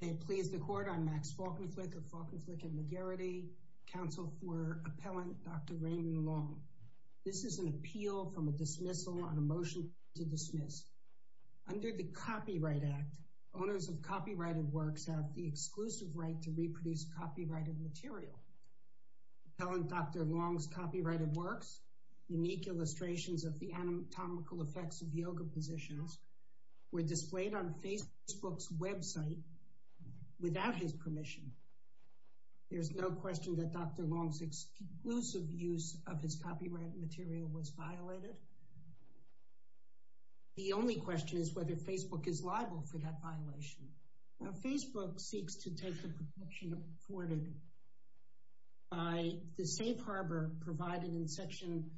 May it please the Court, I'm Max Falkenflik of Falkenflik and McGarrity, counsel for Appellant Dr. Raymond Long. This is an appeal from a dismissal on a motion to dismiss. Under the Copyright Act, owners of copyrighted works have the exclusive right to reproduce copyrighted material. Appellant Dr. Long's copyrighted works, unique illustrations of the anatomical effects of yoga positions, were displayed on Facebook's website without his permission. There's no question that Dr. Long's exclusive use of his copyrighted material was violated. The only question is whether Facebook is liable for that violation. Now Facebook seeks to take the protection afforded by the safe harbor provided in Section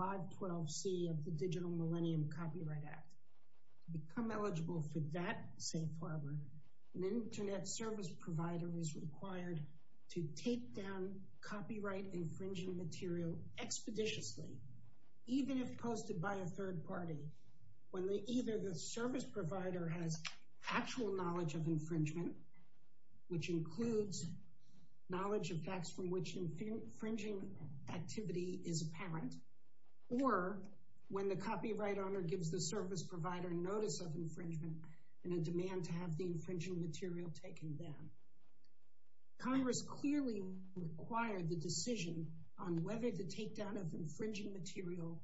512C of the Digital Millennium Copyright Act. To become eligible for that safe harbor, an internet service provider is required to tape down copyright infringing material expeditiously, even if posted by a third party, when either the service provider has actual knowledge of infringement, which includes knowledge of facts from which infringing activity is apparent, or when the copyright owner gives the service provider notice of infringement and a demand to have the infringing material taken down. Congress clearly required the decision on whether the takedown of infringing material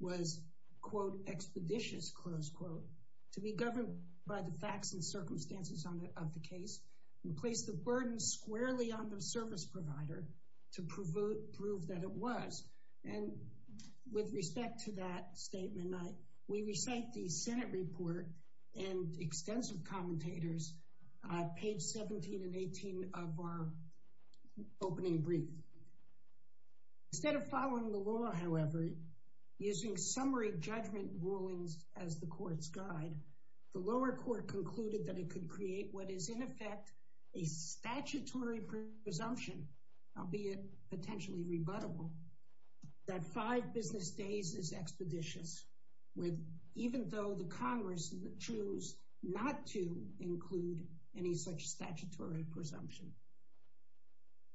was, quote, expeditious, close quote, to be governed by the facts and circumstances of the case and place the burden squarely on the service provider to prove that it was. And with respect to that statement, we recite the Senate report and extensive commentators on page 17 and 18 of our opening brief. Instead of following the law, however, using summary judgment rulings as the court's guide, the lower court concluded that it could create what is in effect a statutory presumption, albeit potentially rebuttable, that five business days is expeditious, even though the Congress choose not to include any such statutory presumption.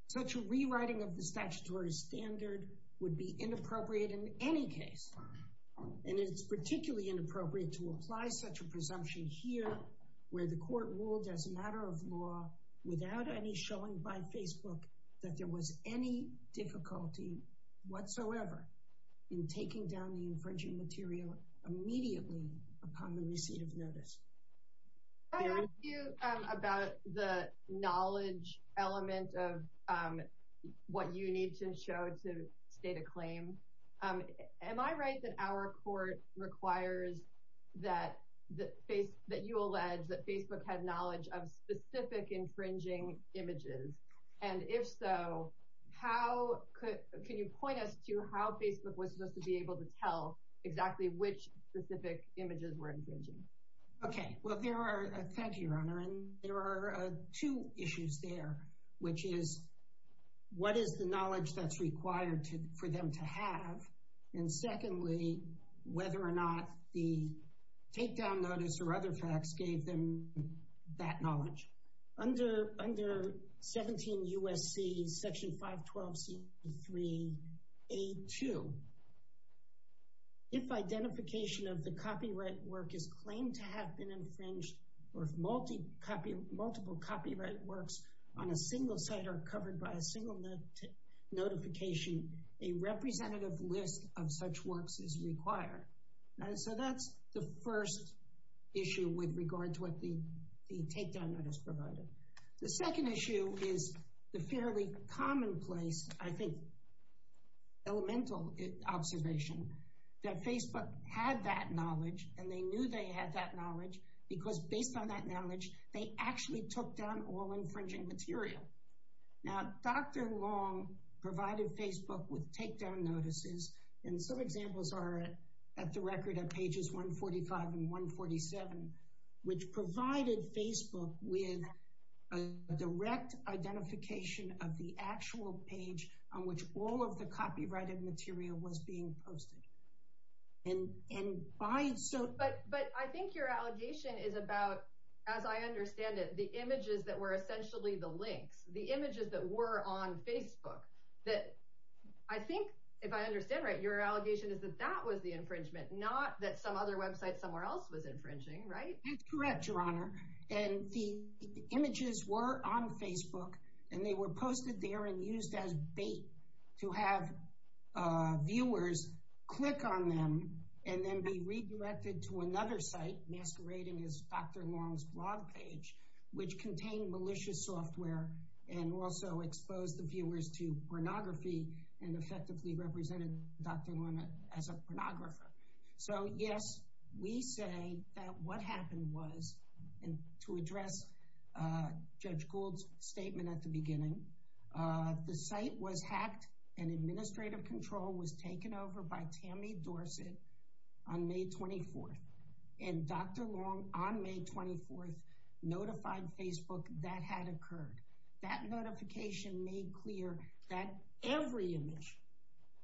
Such a rewriting of the statutory standard would be inappropriate in any case, and it's particularly inappropriate to apply such a presumption here, where the court ruled as a matter of law, without any showing by Facebook that there was any difficulty whatsoever in taking down the infringing material immediately upon the receipt of notice. Can I ask you about the knowledge element of what you need to show to state a claim? Am I right that our court requires that you allege that Facebook had knowledge of specific infringing images? And if so, can you point us to how Facebook was supposed to be able to tell exactly which specific images were infringing? Okay, well, thank you, Your Honor, and there are two issues there, which is what is the knowledge that's required for them to have, and secondly, whether or not the takedown notice or other facts gave them that knowledge. Under 17 U.S.C. Section 512C3A2, if identification of the copyright work is claimed to have been infringed, or if multiple copyright works on a single site are covered by a single notification, a representative list of such works is required. So that's the first issue with regard to what the takedown notice provided. The second issue is the fairly commonplace, I think, elemental observation that Facebook had that knowledge, and they knew they had that knowledge because based on that knowledge, they actually took down all infringing material. Now, Dr. Long provided Facebook with takedown notices, and some examples are at the record at pages 145 and 147, which provided Facebook with a direct identification of the actual page on which all of the copyrighted material was being posted. But I think your allegation is about, as I understand it, the images that were essentially the links, the images that were on Facebook. I think, if I understand right, your allegation is that that was the infringement, not that some other website somewhere else was infringing, right? That's correct, Your Honor, and the images were on Facebook, and they were posted there and used as bait to have viewers click on them and then be redirected to another site masquerading as Dr. Long's blog page, which contained malicious software and also exposed the viewers to pornography and effectively represented Dr. Long as a pornographer. So, yes, we say that what happened was, and to address Judge Gould's statement at the beginning, the site was hacked and administrative control was taken over by Tammy Dorsett on May 24th, and Dr. Long on May 24th notified Facebook that had occurred. That notification made clear that every image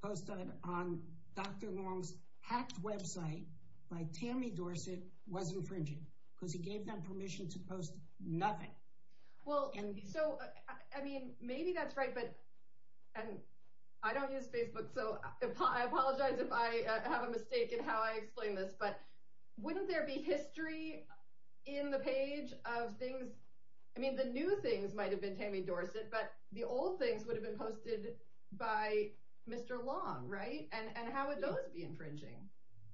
posted on Dr. Long's hacked website by Tammy Dorsett was infringing, because he gave them permission to post nothing. Well, so, I mean, maybe that's right, but, and I don't use Facebook, so I apologize if I have a mistake in how I explain this, but wouldn't there be history in the page of things, I mean, the new things might have been Tammy Dorsett, but the old things would have been posted by Mr. Long, right? And how would those be infringing?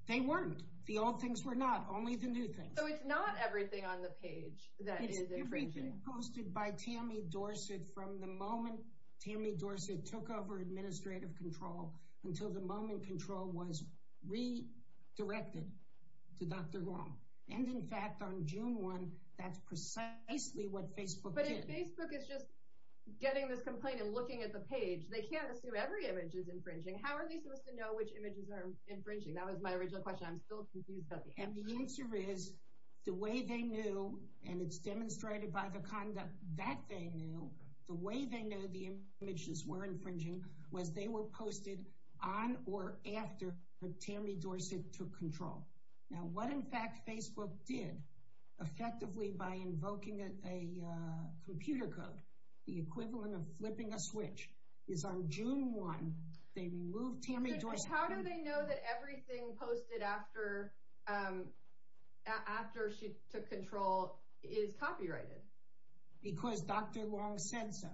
They weren't. The old things were not, only the new things. So it's not everything on the page that is infringing. It's everything posted by Tammy Dorsett from the moment Tammy Dorsett took over administrative control until the moment control was redirected to Dr. Long. And, in fact, on June 1, that's precisely what Facebook did. But if Facebook is just getting this complaint and looking at the page, they can't assume every image is infringing. How are they supposed to know which images are infringing? That was my original question. I'm still confused about the answer. And the answer is, the way they knew, and it's demonstrated by the conduct that they knew, the way they knew the images were infringing was they were posted on or after Tammy Dorsett took control. Now, what, in fact, Facebook did effectively by invoking a computer code, the equivalent of flipping a switch, is on June 1, they removed Tammy Dorsett. But how do they know that everything posted after she took control is copyrighted? Because Dr. Long said so.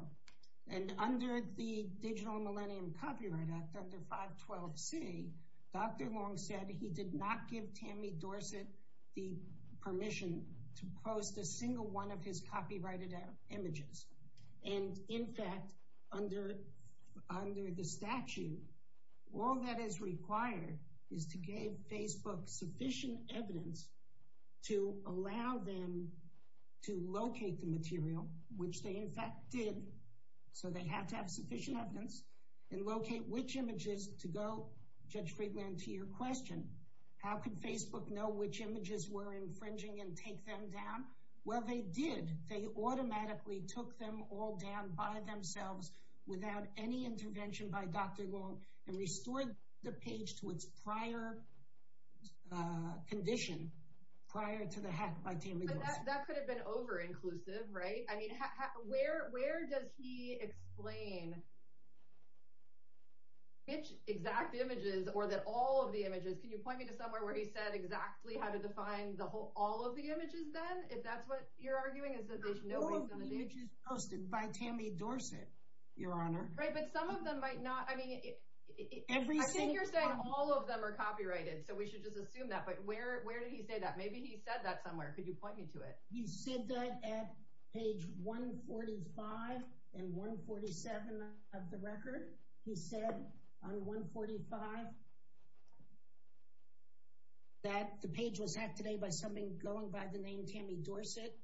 And under the Digital Millennium Copyright Act, under 512C, Dr. Long said he did not give Tammy Dorsett the permission to post a single one of his copyrighted images. And in fact, under the statute, all that is required is to give Facebook sufficient evidence to allow them to locate the material, which they in fact did, so they have to have sufficient evidence, and locate which images to go, Judge Friedland, to your question. How could Facebook know which images were infringing and take them down? Well, they did. They automatically took them all down by themselves without any intervention by Dr. Long, and restored the page to its prior condition, prior to the hack by Tammy Dorsett. But that could have been over-inclusive, right? I mean, where does he explain which exact images, or that all of the images, can you point me to somewhere where he said exactly how to define all of the images then, if that's what you're arguing? All of the images posted by Tammy Dorsett, Your Honor. Right, but some of them might not, I mean, I think you're saying all of them are copyrighted, so we should just assume that, but where did he say that? Maybe he said that somewhere. Could you point me to it? He said that at page 145 and 147 of the record. He said on 145 that the page was hacked today by something going by the name Tammy Dorsett,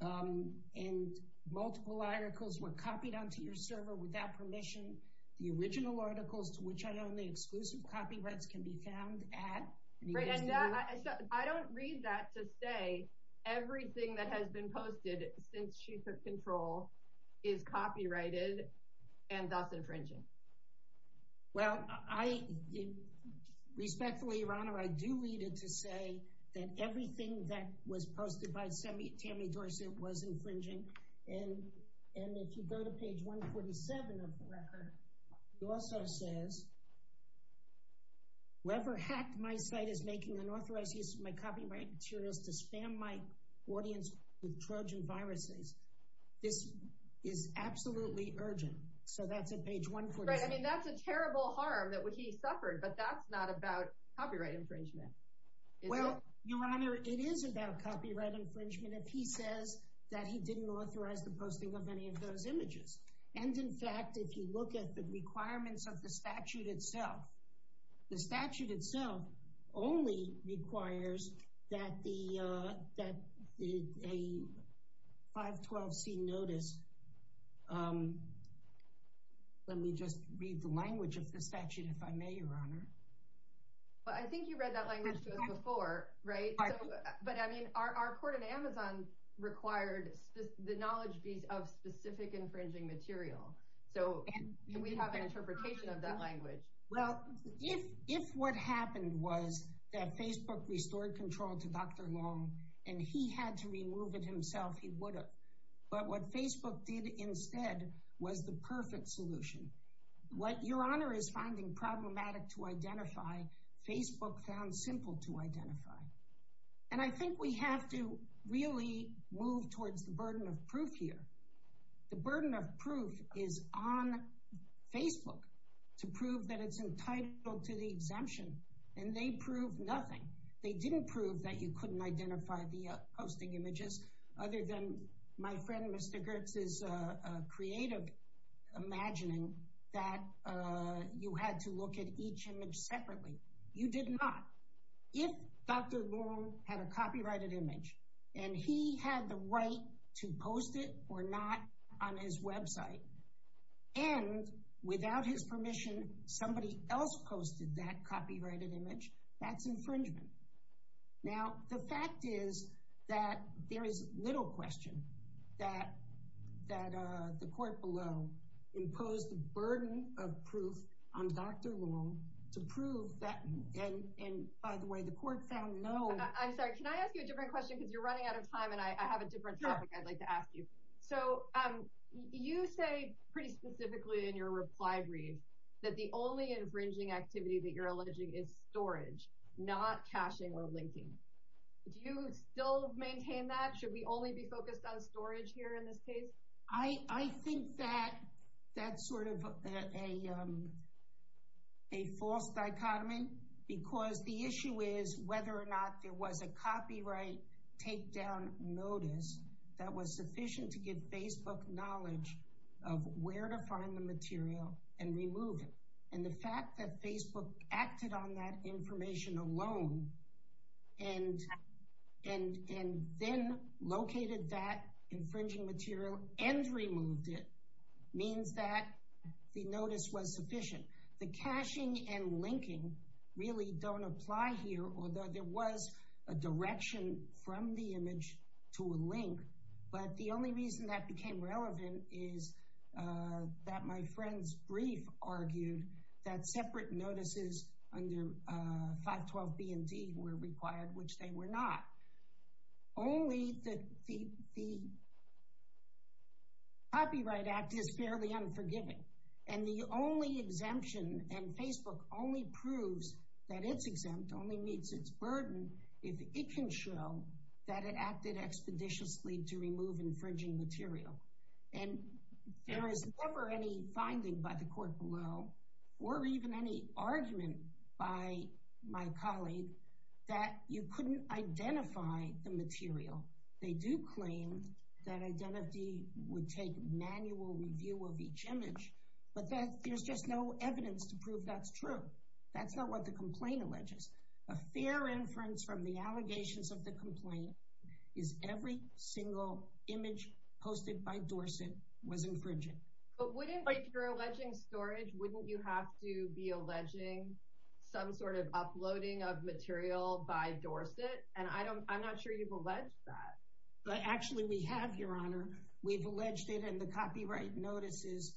and multiple articles were copied onto your server without permission. The original articles, to which I own the exclusive copyrights, can be found at... I don't read that to say everything that has been posted since she took control is copyrighted and thus infringing. Well, respectfully, Your Honor, I do read it to say that everything that was posted by Tammy Dorsett was infringing, and if you go to page 147 of the record, it also says, whoever hacked my site is making unauthorized use of my copyrighted materials to spam my audience with Trojan viruses. This is absolutely urgent, so that's at page 147. Right, I mean, that's a terrible harm that he suffered, but that's not about copyright infringement, is it? Well, Your Honor, it is about copyright infringement if he says that he didn't authorize the posting of any of those images. And, in fact, if you look at the requirements of the statute itself, the statute itself only requires that a 512c notice... Let me just read the language of the statute, if I may, Your Honor. Well, I think you read that language to us before, right? But, I mean, our court at Amazon required the knowledge of specific infringing material, so we have an interpretation of that language. Well, if what happened was that Facebook restored control to Dr. Long and he had to remove it himself, he would have. But what Facebook did instead was the perfect solution. What Your Honor is finding problematic to identify, Facebook found simple to identify. And I think we have to really move towards the burden of proof here. The burden of proof is on Facebook to prove that it's entitled to the exemption, and they proved nothing. They didn't prove that you couldn't identify the posting images, other than my friend Mr. Goertz's creative imagining that you had to look at each image separately. You did not. If Dr. Long had a copyrighted image and he had the right to post it or not on his website, and without his permission, somebody else posted that copyrighted image, that's infringement. Now, the fact is that there is little question that the court below imposed the burden of proof on Dr. Long to prove that, and by the way, the court found no. I'm sorry, can I ask you a different question because you're running out of time and I have a different topic I'd like to ask you. So, you say pretty specifically in your reply brief that the only infringing activity that you're alleging is storage, not caching or linking. Do you still maintain that? Should we only be focused on storage here in this case? I think that that's sort of a false dichotomy because the issue is whether or not there was a copyright takedown notice that was sufficient to give Facebook knowledge of where to find the material and remove it. And the fact that Facebook acted on that information alone and then located that infringing material and removed it means that the notice was sufficient. The caching and linking really don't apply here, although there was a direction from the image to a link, but the only reason that became relevant is that my friend's brief argued that separate notices under 512 B and D were required, which they were not. Only the Copyright Act is fairly unforgiving and the only exemption and Facebook only proves that it's exempt, only meets its burden if it can show that it acted expeditiously to remove infringing material. And there is never any finding by the court below or even any argument by my colleague that you couldn't identify the material. They do claim that identity would take manual review of each image, but there's just no evidence to prove that's true. That's not what the complaint alleges. A fair inference from the allegations of the complaint is every single image posted by Dorset was infringing. But wouldn't, if you're alleging storage, wouldn't you have to be alleging some sort of uploading of material by Dorset? And I'm not sure you've alleged that. But actually we have, Your Honor. We've alleged it and the copyright notices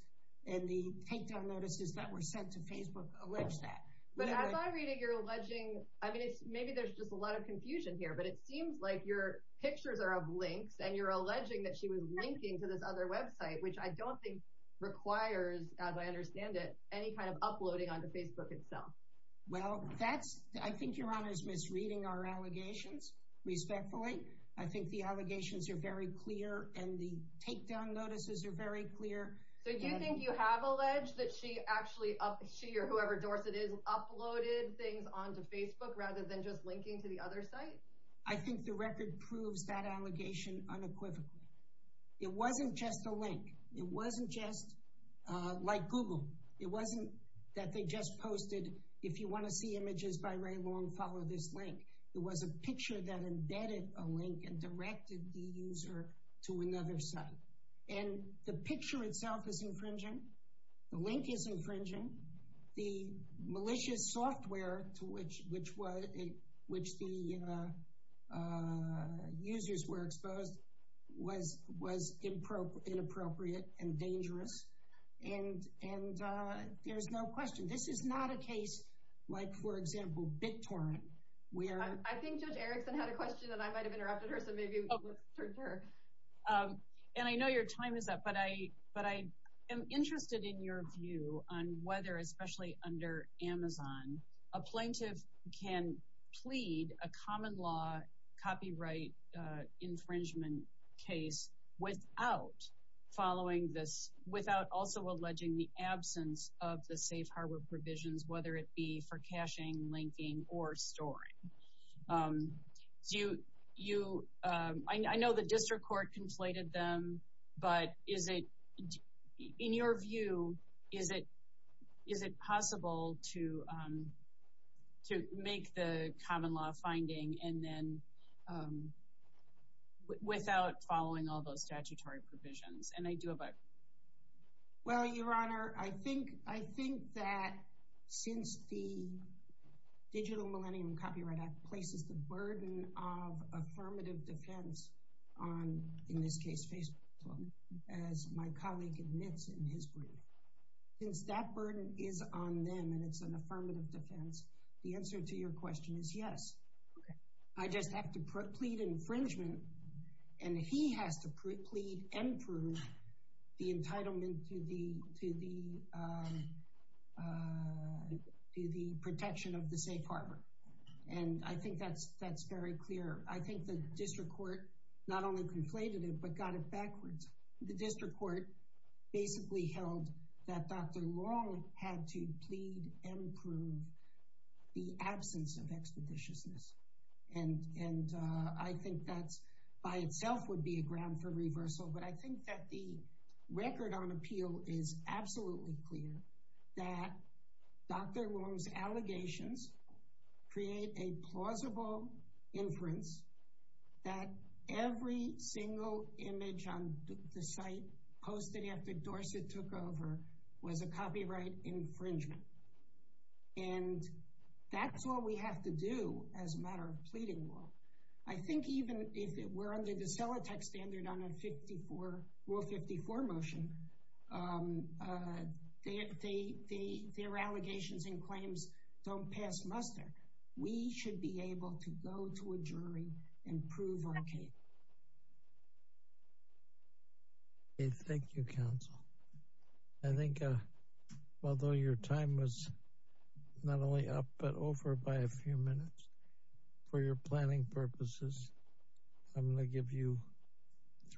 and the takedown notices that were sent to Facebook allege that. But as I read it, you're alleging, I mean, maybe there's just a lot of confusion here, but it seems like your pictures are of links and you're alleging that she was linking to this other website, which I don't think requires, as I understand it, any kind of uploading onto Facebook itself. Well, that's, I think Your Honor is misreading our allegations, respectfully. I think the allegations are very clear and the takedown notices are very clear. So do you think you have alleged that she actually, she or whoever Dorset is, uploaded things onto Facebook rather than just linking to the other site? I think the record proves that allegation unequivocally. It wasn't just a link. It wasn't just like Google. It wasn't that they just posted, if you want to see images by Ray Long, follow this link. It was a picture that embedded a link and directed the user to another site. And the picture itself is infringing. The link is infringing. The malicious software to which the users were exposed was inappropriate and dangerous. And there's no question. This is not a case like, for example, BitTorrent. I think Judge Erickson had a question and I might have interrupted her, so maybe let's turn to her. And I know your time is up, but I am interested in your view on whether, especially under Amazon, a plaintiff can plead a common law copyright infringement case without following this, without also alleging the absence of the safe harbor provisions, whether it be for caching, linking, or storing. I know the district court conflated them, but in your view, is it possible to make the common law finding without following all those statutory provisions? Well, Your Honor, I think that since the Digital Millennium Copyright Act places the burden of affirmative defense on, in this case, Facebook, as my colleague admits in his brief, since that burden is on them and it's an affirmative defense, the answer to your question is yes. I just have to plead infringement and he has to plead and prove the entitlement to the protection of the safe harbor. And I think that's very clear. I think the district court not only conflated it, but got it backwards. The district court basically held that Dr. Long had to plead and prove the absence of expeditiousness. And I think that by itself would be a ground for reversal. But I think that the record on appeal is absolutely clear that Dr. Long's allegations create a plausible inference that every single image on the site posted after Dorsett took over was a copyright infringement. And that's all we have to do as a matter of pleading law. I think even if it were under the Celotex standard on a Rule 54 motion, their allegations and claims don't pass muster. We should be able to go to a jury and prove our case. Thank you, counsel. I think although your time was not only up but over by a few minutes, for your planning purposes, I'm going to give you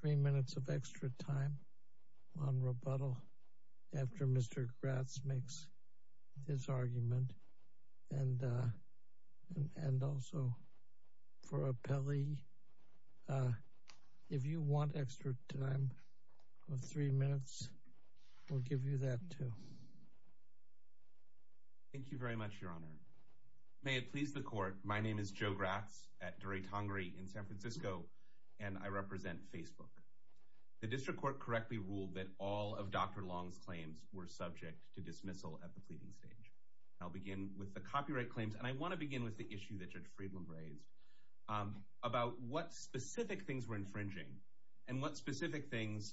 three minutes of extra time on rebuttal after Mr. Gratz makes his argument. And also for appellee, if you want extra time of three minutes, we'll give you that too. Thank you very much, Your Honor. May it please the court, my name is Joe Gratz at Duray Tongari in San Francisco, and I represent Facebook. The district court correctly ruled that all of Dr. Long's claims were subject to dismissal at the pleading stage. I'll begin with the copyright claims, and I want to begin with the issue that Judge Friedland raised, about what specific things were infringing and what specific things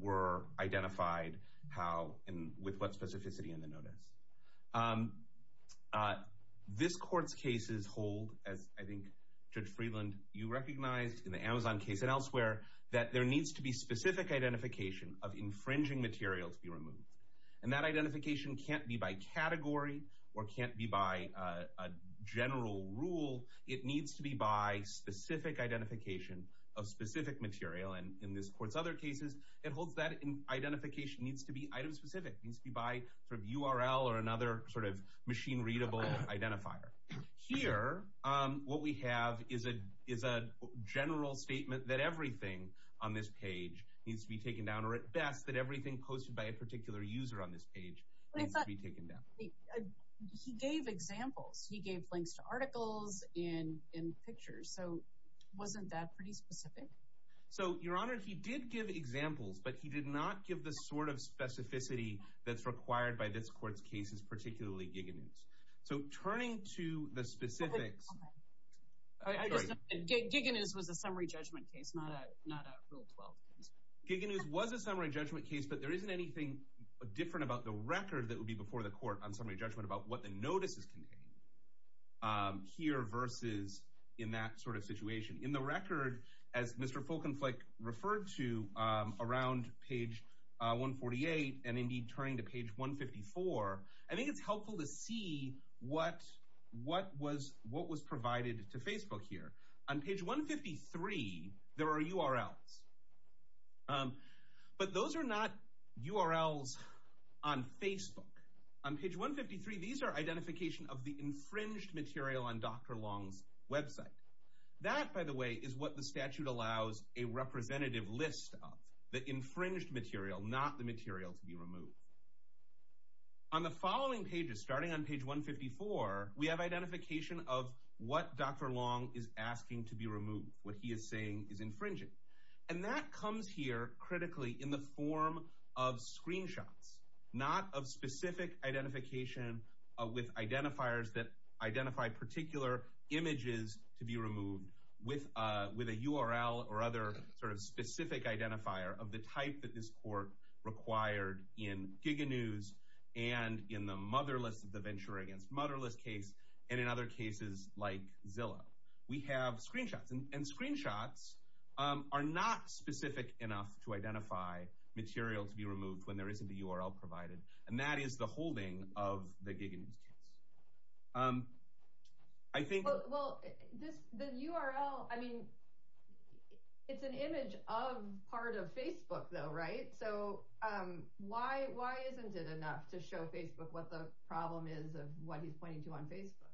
were identified with what specificity in the notice. This court's cases hold, as I think Judge Friedland, you recognized in the Amazon case and elsewhere, that there needs to be specific identification of infringing material to be removed. And that identification can't be by category or can't be by a general rule. It needs to be by specific identification of specific material. And in this court's other cases, it holds that identification needs to be item-specific, needs to be by URL or another sort of machine-readable identifier. Here, what we have is a general statement that everything on this page needs to be taken down, or at best, that everything posted by a particular user on this page needs to be taken down. He gave examples. He gave links to articles and pictures. So wasn't that pretty specific? So, Your Honor, he did give examples, but he did not give the sort of specificity that's required by this court's cases, particularly Giganews. So turning to the specifics… Giganews was a summary judgment case, not a Rule 12 case. Giganews was a summary judgment case, but there isn't anything different about the record that would be before the court on summary judgment about what the notices contain here versus in that sort of situation. In the record, as Mr. Folkenflik referred to around page 148 and, indeed, turning to page 154, I think it's helpful to see what was provided to Facebook here. On page 153, there are URLs, but those are not URLs on Facebook. On page 153, these are identification of the infringed material on Dr. Long's website. That, by the way, is what the statute allows a representative list of, the infringed material, not the material to be removed. On the following pages, starting on page 154, we have identification of what Dr. Long is asking to be removed, what he is saying is infringing, and that comes here critically in the form of screenshots, not of specific identification with identifiers that identify particular images to be removed with a URL or other sort of specific identifier of the type that this court required in GigaNews and in the Motherless of the Venture Against Motherless case and in other cases like Zillow. We have screenshots, and screenshots are not specific enough to identify material to be removed when there isn't a URL provided, and that is the holding of the GigaNews case. I think... Well, the URL, I mean, it's an image of part of Facebook, though, right? So why isn't it enough to show Facebook what the problem is of what he's pointing to on Facebook?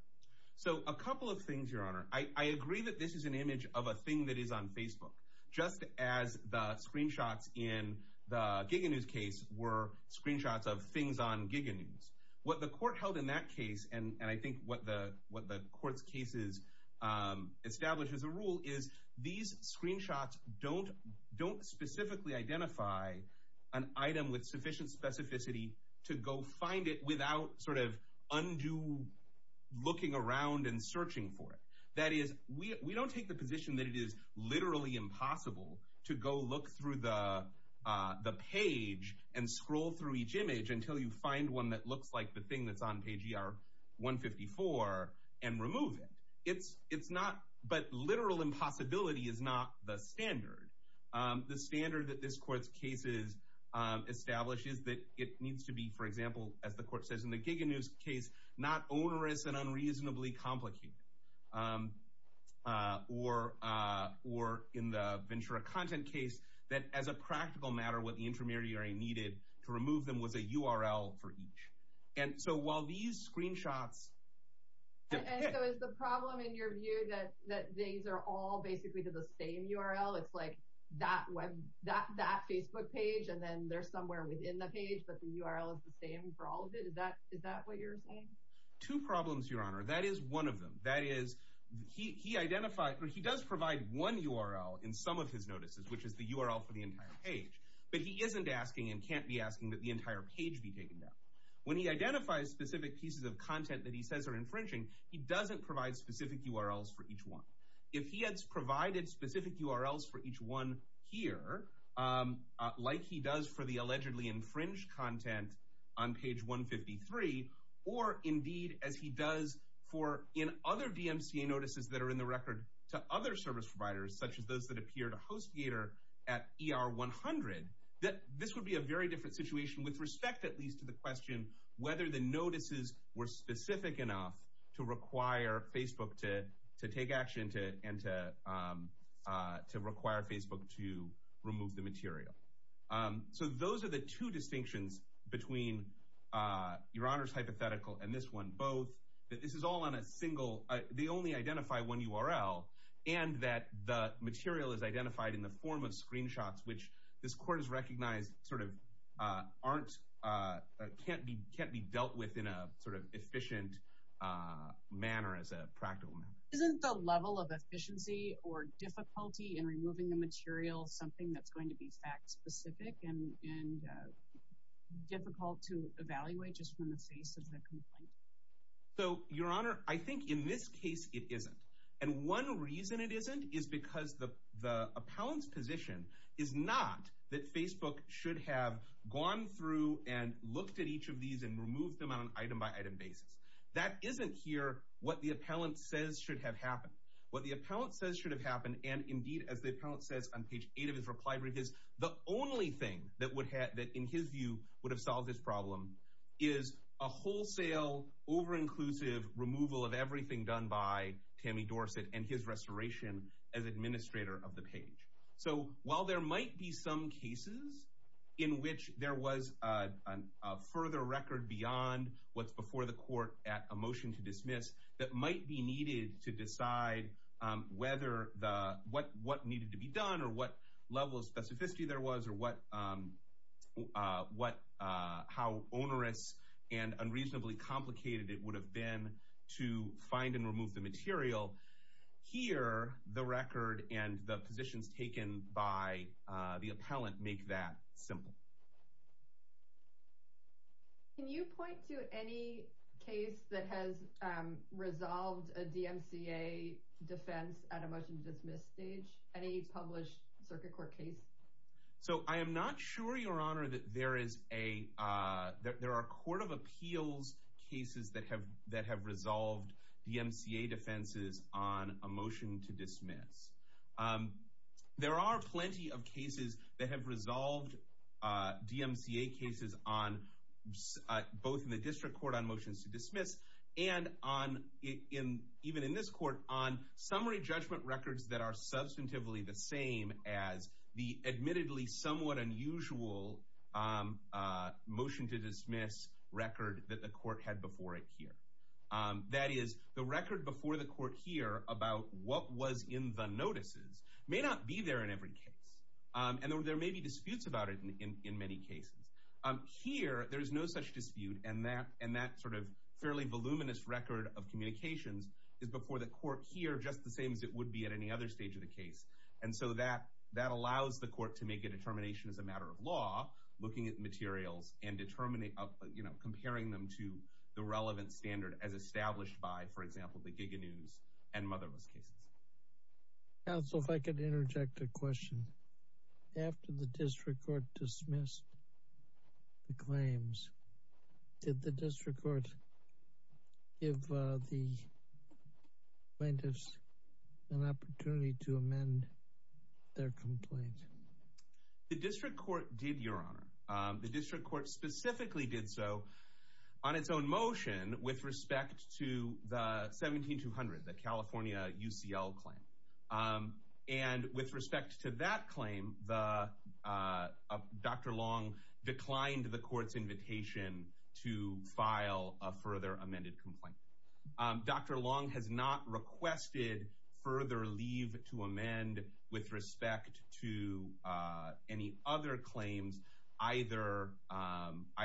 So a couple of things, Your Honor. I agree that this is an image of a thing that is on Facebook, just as the screenshots in the GigaNews case were screenshots of things on GigaNews. What the court held in that case, and I think what the court's cases establish as a rule, is these screenshots don't specifically identify an item with sufficient specificity to go find it without sort of undue looking around and searching for it. That is, we don't take the position that it is literally impossible to go look through the page and scroll through each image until you find one that looks like the thing that's on page ER 154 and remove it. It's not, but literal impossibility is not the standard. The standard that this court's case establishes that it needs to be, for example, as the court says in the GigaNews case, not onerous and unreasonably complicated. Or in the Ventura Content case, that as a practical matter, what the infirmary needed to remove them was a URL for each. And so while these screenshots... And so is the problem in your view that these are all basically to the same URL? It's like that Facebook page, and then there's somewhere within the page, but the URL is the same for all of it? Is that what you're saying? Two problems, Your Honor. That is one of them. That is, he does provide one URL in some of his notices, which is the URL for the entire page, but he isn't asking and can't be asking that the entire page be taken down. When he identifies specific pieces of content that he says are infringing, he doesn't provide specific URLs for each one. If he has provided specific URLs for each one here, like he does for the allegedly infringed content on page 153, or indeed as he does in other DMCA notices that are in the record to other service providers, such as those that appear to HostGator at ER 100, this would be a very different situation with respect at least to the question whether the notices were specific enough to require Facebook to take action and to require Facebook to remove the material. So those are the two distinctions between Your Honor's hypothetical and this one both. This is all on a single—they only identify one URL, and that the material is identified in the form of screenshots, which this Court has recognized sort of can't be dealt with in a sort of efficient manner as a practical matter. Isn't the level of efficiency or difficulty in removing the material something that's going to be fact-specific and difficult to evaluate just from the face of the complaint? So, Your Honor, I think in this case it isn't. And one reason it isn't is because the appellant's position is not that Facebook should have gone through and looked at each of these and removed them on an item-by-item basis. That isn't here what the appellant says should have happened. What the appellant says should have happened, and indeed as the appellant says on page 8 of his reply brief, is the only thing that in his view would have solved this problem is a wholesale, over-inclusive removal of everything done by Tammy Dorsett and his restoration as administrator of the page. So while there might be some cases in which there was a further record beyond what's before the court at a motion to dismiss that might be needed to decide what needed to be done or what level of specificity there was or how onerous and unreasonably complicated it would have been to find and remove the material, here the record and the positions taken by the appellant make that simple. Can you point to any case that has resolved a DMCA defense at a motion-to-dismiss stage? Any published circuit court case? So I am not sure, Your Honor, that there are court of appeals cases that have resolved DMCA defenses on a motion to dismiss. There are plenty of cases that have resolved DMCA cases both in the district court on motions to dismiss and even in this court on summary judgment records that are substantively the same as the admittedly somewhat unusual motion to dismiss record that the court had before it here. That is, the record before the court here about what was in the notices may not be there in every case, and there may be disputes about it in many cases. Here, there is no such dispute, and that sort of fairly voluminous record of communications is before the court here just the same as it would be at any other stage of the case. And so that allows the court to make a determination as a matter of law, looking at materials and comparing them to the relevant standard as established by, for example, the Giga News and Motherless cases. Counsel, if I could interject a question. After the district court dismissed the claims, did the district court give the plaintiffs an opportunity to amend their complaint? The district court did, Your Honor. The district court specifically did so on its own motion with respect to the 17-200, the California UCL claim. And with respect to that claim, Dr. Long declined the court's invitation to file a further amended complaint. Dr. Long has not requested further leave to amend with respect to any other claims, either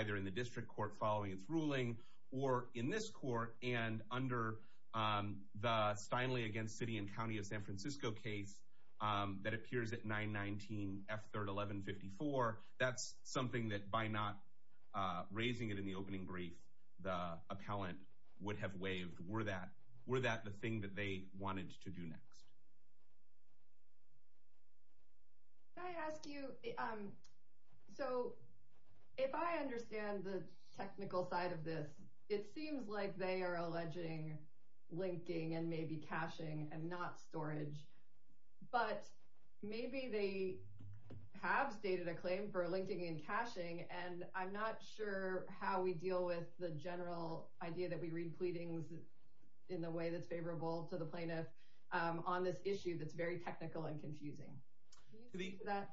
in the district court following its ruling or in this court. And under the Steinle against City and County of San Francisco case that appears at 919 F. 3rd 1154, that's something that by not raising it in the opening brief, the appellant would have waived. Were that the thing that they wanted to do next? Can I ask you, so if I understand the technical side of this, it seems like they are alleging linking and maybe caching and not storage. But maybe they have stated a claim for linking and caching, and I'm not sure how we deal with the general idea that we read pleadings in the way that's favorable to the plaintiff on this issue that's very technical and confusing. Can you speak to that?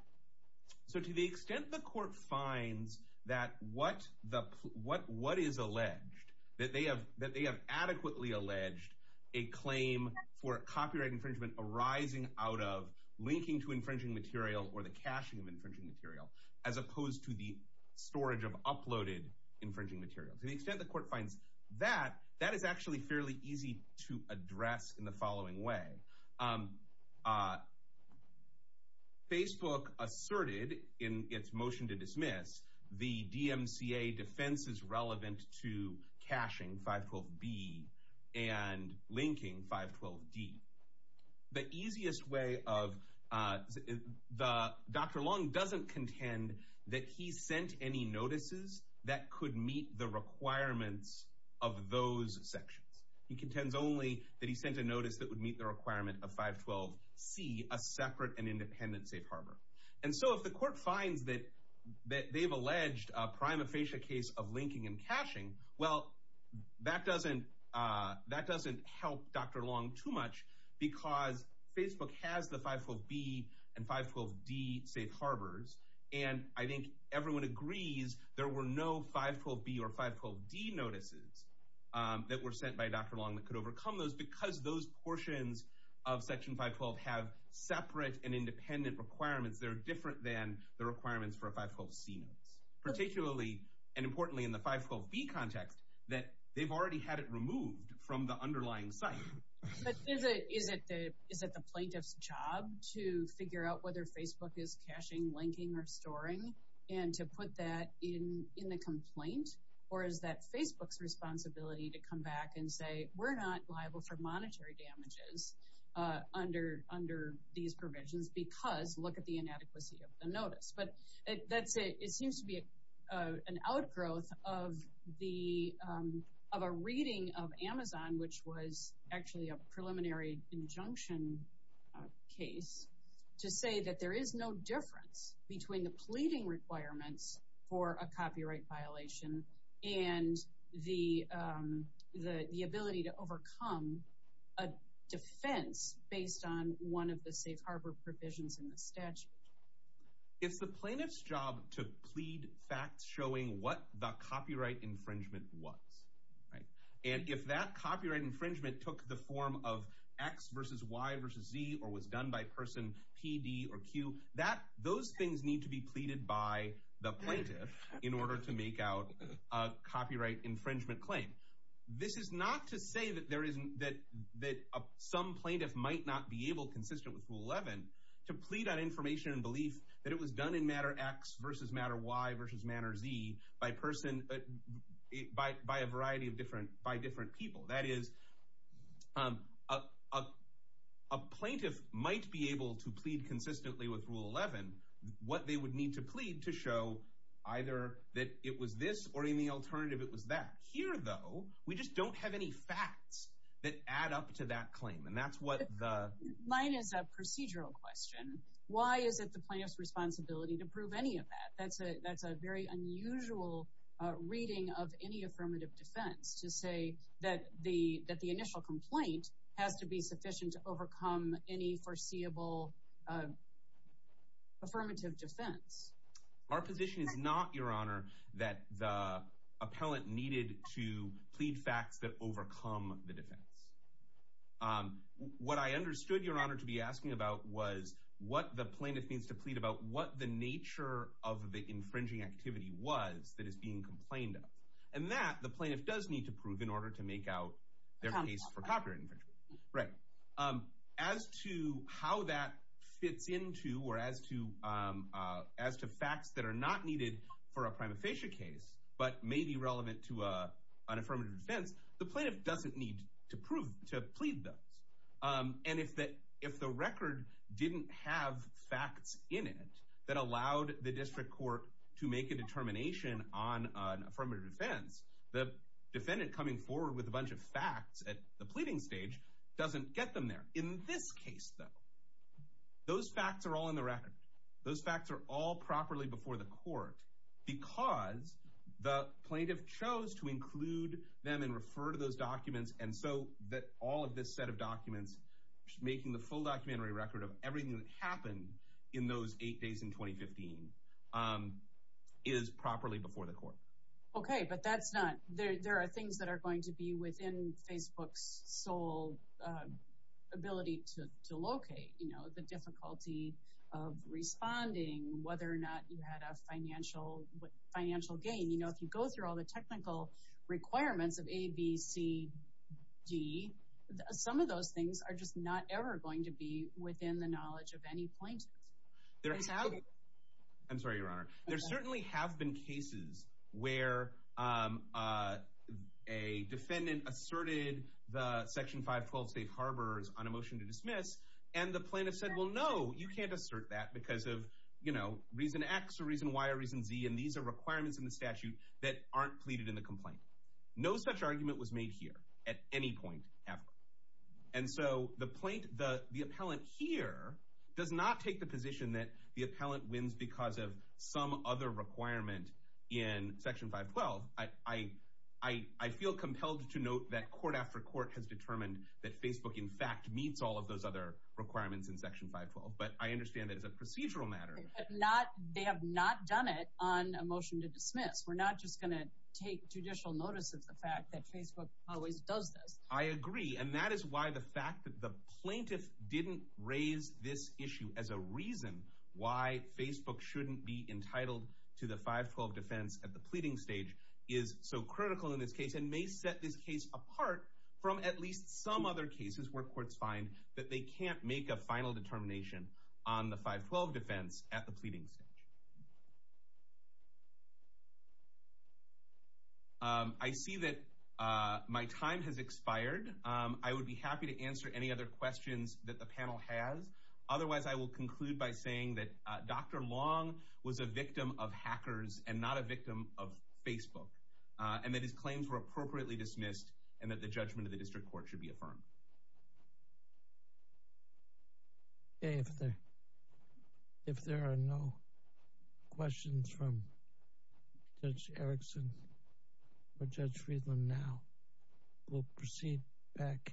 So to the extent the court finds that what is alleged, that they have adequately alleged a claim for copyright infringement arising out of linking to infringing material or the caching of infringing material, as opposed to the storage of uploaded infringing material. To the extent the court finds that, that is actually fairly easy to address in the following way. Facebook asserted in its motion to dismiss the DMCA defense is relevant to caching 512B and linking 512D. The easiest way of, Dr. Long doesn't contend that he sent any notices that could meet the requirements of those sections. He contends only that he sent a notice that would meet the requirement of 512C, a separate and independent safe harbor. And so if the court finds that they've alleged a prima facie case of linking and caching, well, that doesn't help Dr. Long too much, because Facebook has the 512B and 512D safe harbors, and I think everyone agrees there were no 512B or 512D notices that were sent by Dr. Long that could overcome those, because those portions of Section 512 have separate and independent requirements that are different than the requirements for a 512C notice. Particularly, and importantly in the 512B context, that they've already had it removed from the underlying site. But is it the plaintiff's job to figure out whether Facebook is caching, linking, or storing, and to put that in the complaint? Or is that Facebook's responsibility to come back and say, we're not liable for monetary damages under these provisions, because look at the inadequacy of the notice. But it seems to be an outgrowth of a reading of Amazon, which was actually a preliminary injunction case, to say that there is no difference between the pleading requirements for a copyright violation and the ability to overcome a defense based on one of the safe harbor provisions in the statute. It's the plaintiff's job to plead facts showing what the copyright infringement was. And if that copyright infringement took the form of X versus Y versus Z, or was done by person P, D, or Q, those things need to be pleaded by the plaintiff in order to make out a copyright infringement claim. This is not to say that some plaintiff might not be able, consistent with Rule 11, to plead on information and belief that it was done in matter X versus matter Y versus matter Z, by a variety of different people. That is, a plaintiff might be able to plead consistently with Rule 11 what they would need to plead to show either that it was this or in the alternative it was that. Here, though, we just don't have any facts that add up to that claim. Mine is a procedural question. Why is it the plaintiff's responsibility to prove any of that? That's a very unusual reading of any affirmative defense to say that the initial complaint has to be sufficient to overcome any foreseeable affirmative defense. Our position is not, Your Honor, that the appellant needed to plead facts that overcome the defense. What I understood, Your Honor, to be asking about was what the plaintiff needs to plead about, what the nature of the infringing activity was that is being complained of, and that the plaintiff does need to prove in order to make out their case for copyright infringement. As to how that fits into or as to facts that are not needed for a prima facie case but may be relevant to an affirmative defense, the plaintiff doesn't need to plead those. And if the record didn't have facts in it that allowed the district court to make a determination on an affirmative defense, the defendant coming forward with a bunch of facts at the pleading stage doesn't get them there. In this case, though, those facts are all in the record. Those facts are all properly before the court because the plaintiff chose to include them and refer to those documents, and so that all of this set of documents, making the full documentary record of everything that happened in those eight days in 2015, is properly before the court. Okay, but that's not—there are things that are going to be within Facebook's sole ability to locate. You know, the difficulty of responding, whether or not you had a financial gain. You know, if you go through all the technical requirements of A, B, C, D, some of those things are just not ever going to be within the knowledge of any plaintiff. I'm sorry, Your Honor. There certainly have been cases where a defendant asserted the Section 512 State Harbors on a motion to dismiss, and the plaintiff said, well, no, you can't assert that because of, you know, reason X or reason Y or reason Z, and these are requirements in the statute that aren't pleaded in the complaint. No such argument was made here at any point, ever. And so the plaintiff—the appellant here does not take the position that the appellant wins because of some other requirement in Section 512. I feel compelled to note that court after court has determined that Facebook, in fact, meets all of those other requirements in Section 512, but I understand that it's a procedural matter. But not—they have not done it on a motion to dismiss. We're not just going to take judicial notice of the fact that Facebook always does this. I agree, and that is why the fact that the plaintiff didn't raise this issue as a reason why Facebook shouldn't be entitled to the 512 defense at the pleading stage is so critical in this case and may set this case apart from at least some other cases where courts find that they can't make a final determination on the 512 defense at the pleading stage. I see that my time has expired. I would be happy to answer any other questions that the panel has. Otherwise, I will conclude by saying that Dr. Long was a victim of hackers and not a victim of Facebook, and that his claims were appropriately dismissed and that the judgment of the district court should be affirmed. Okay, if there are no questions from Judge Erickson or Judge Friedland now, we'll proceed back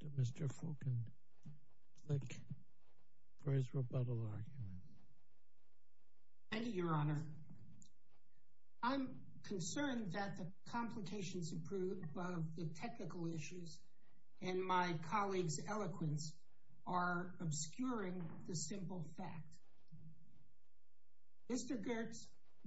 to Mr. Fulkenflik for his rebuttal argument. Thank you, Your Honor. I'm concerned that the complications of the technical issues and my colleague's eloquence are obscuring the simple fact. Mr. Gertz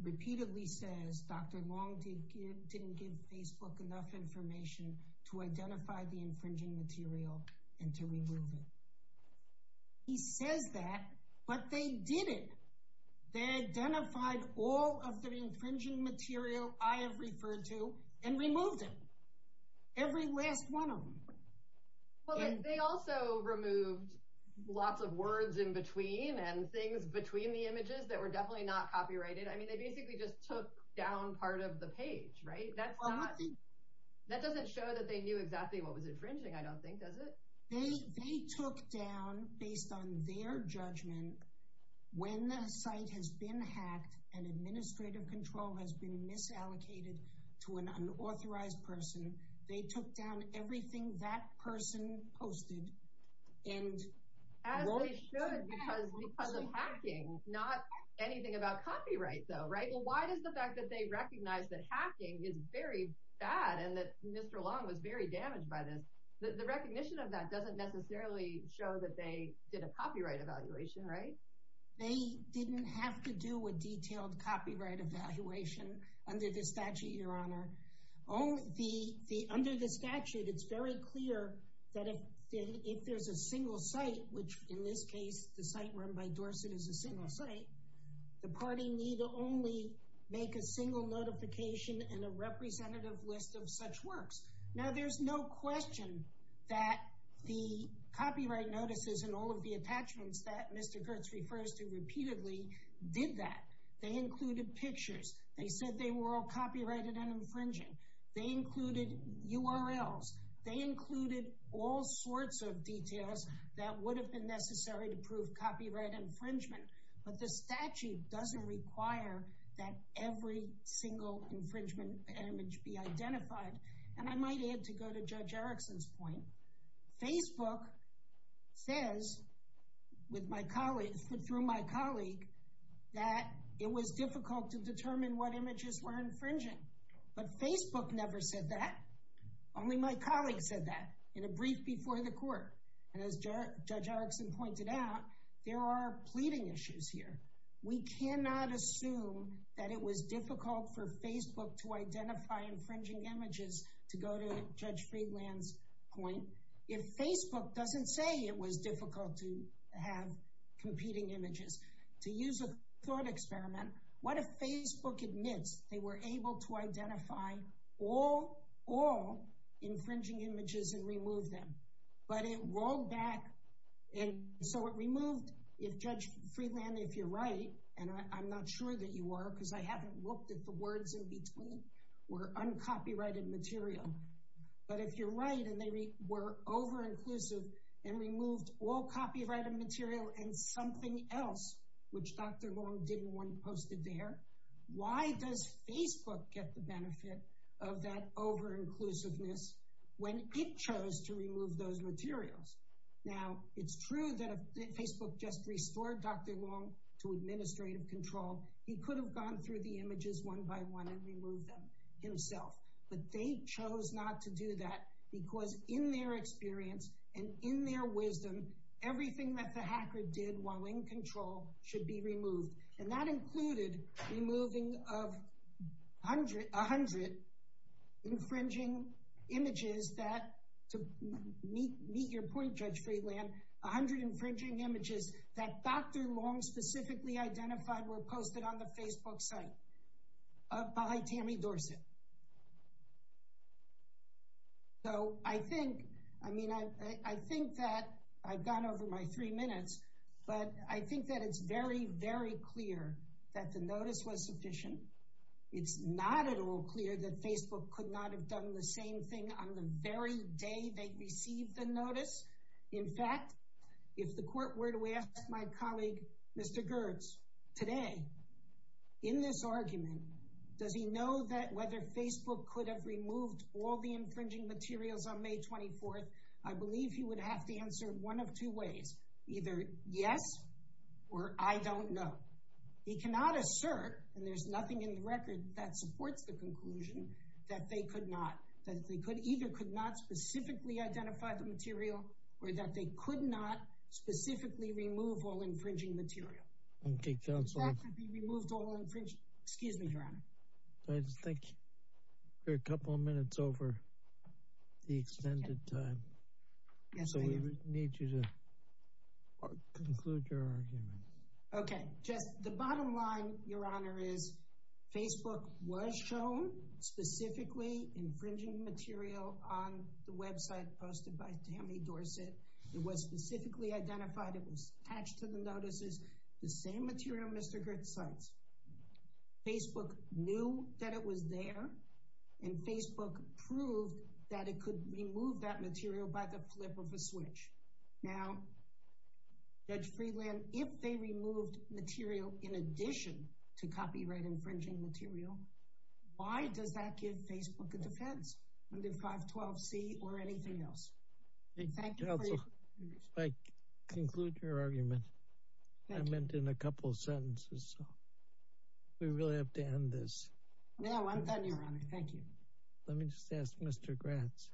repeatedly says Dr. Long didn't give Facebook enough information to identify the infringing material and to remove it. He says that, but they didn't. They identified all of the infringing material I have referred to and removed it. Every last one of them. Well, they also removed lots of words in between and things between the images that were definitely not copyrighted. I mean, they basically just took down part of the page, right? That doesn't show that they knew exactly what was infringing, I don't think, does it? They took down, based on their judgment, when the site has been hacked and administrative control has been misallocated to an unauthorized person, they took down everything that person posted. As they should, because of hacking, not anything about copyright, though, right? Well, why does the fact that they recognize that hacking is very bad and that Mr. Long was very damaged by this, the recognition of that doesn't necessarily show that they did a copyright evaluation, right? They didn't have to do a detailed copyright evaluation under this statute, Your Honor. Under the statute, it's very clear that if there's a single site, which in this case, the site run by Dorset is a single site, the party need only make a single notification and a representative list of such works. Now, there's no question that the copyright notices and all of the attachments that Mr. Kurtz refers to repeatedly did that. They included pictures. They said they were all copyrighted and infringing. They included URLs. They included all sorts of details that would have been necessary to prove copyright infringement. But the statute doesn't require that every single infringement image be identified. And I might add, to go to Judge Erickson's point, Facebook says, through my colleague, that it was difficult to determine what images were infringing. But Facebook never said that. Only my colleague said that in a brief before the court. And as Judge Erickson pointed out, there are pleading issues here. We cannot assume that it was difficult for Facebook to identify infringing images to go to Judge Friedland's point. If Facebook doesn't say it was difficult to have competing images, to use a thought experiment, what if Facebook admits they were able to identify all infringing images and remove them? But it rolled back. And so it removed, if Judge Friedland, if you're right, and I'm not sure that you are because I haven't looked at the words in between, were uncopyrighted material. But if you're right and they were over-inclusive and removed all copyrighted material and something else, which Dr. Long didn't want posted there, why does Facebook get the benefit of that over-inclusiveness when it chose to remove those materials? Now, it's true that if Facebook just restored Dr. Long to administrative control, he could have gone through the images one by one and removed them himself. But they chose not to do that because in their experience and in their wisdom, everything that the hacker did while in control should be removed. And that included removing 100 infringing images that, to meet your point, Judge Friedland, 100 infringing images that Dr. Long specifically identified were posted on the Facebook site by Tammy Dorsett. So I think that, I've gone over my three minutes, but I think that it's very, very clear that the notice was sufficient. It's not at all clear that Facebook could not have done the same thing on the very day they received the notice. In fact, if the court were to ask my colleague, Mr. Gerdes, today, in this argument, does he know that whether Facebook could have removed all the infringing materials on May 24th, I believe he would have to answer one of two ways, either yes or I don't know. He cannot assert, and there's nothing in the record that supports the conclusion, that they either could not specifically identify the material or that they could not specifically remove all infringing material. That could be removed all infringing. Excuse me, Your Honor. Thank you. We're a couple of minutes over the extended time. So we need you to conclude your argument. Okay. Just the bottom line, Your Honor, is Facebook was shown specifically infringing material on the website posted by Tammy Dorsett. It was specifically identified. It was attached to the notices. The same material Mr. Gerdes cites. Facebook knew that it was there, and Facebook proved that it could remove that material by the flip of a switch. Now, Judge Friedland, if they removed material in addition to copyright infringing material, why does that give Facebook a defense under 512c or anything else? Thank you for your conclusion. If I conclude your argument, I meant in a couple of sentences, so we really have to end this. No, I'm done, Your Honor. Thank you. Let me just ask Mr. Gratz,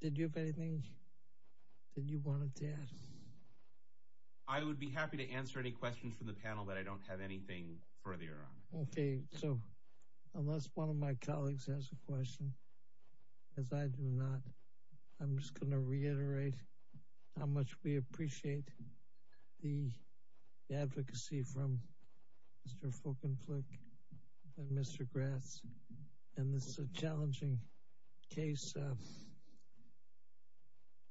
did you have anything that you wanted to add? I would be happy to answer any questions from the panel that I don't have anything further on. Okay. So unless one of my colleagues has a question, as I do not, I'm just going to reiterate how much we appreciate the advocacy from Mr. Fulkenflik and Mr. Gratz, and this is a challenging case. There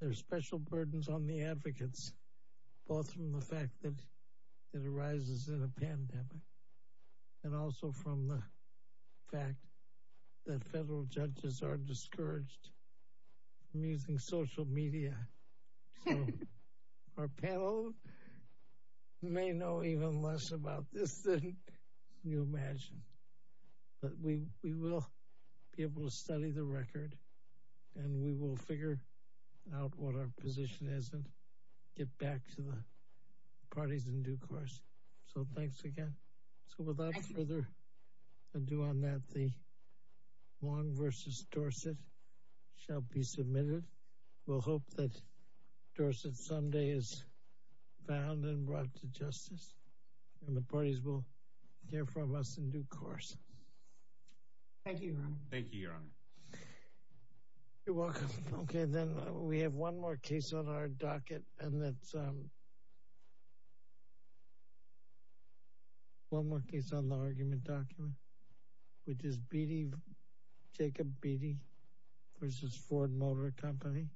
are special burdens on the advocates, both from the fact that it arises in a pandemic, and also from the fact that federal judges are discouraged from using social media. So our panel may know even less about this than you imagine, but we will be able to study the record, and we will figure out what our position is and get back to the parties in due course, so thanks again. So without further ado on that, the Wong v. Dorset shall be submitted. We'll hope that Dorset someday is found and brought to justice, and the parties will hear from us in due course. Thank you, Your Honor. Thank you, Your Honor. You're welcome. Okay, then we have one more case on our docket, and that's one more case on the argument document, which is Jacob Beatty v. Ford Motor Company.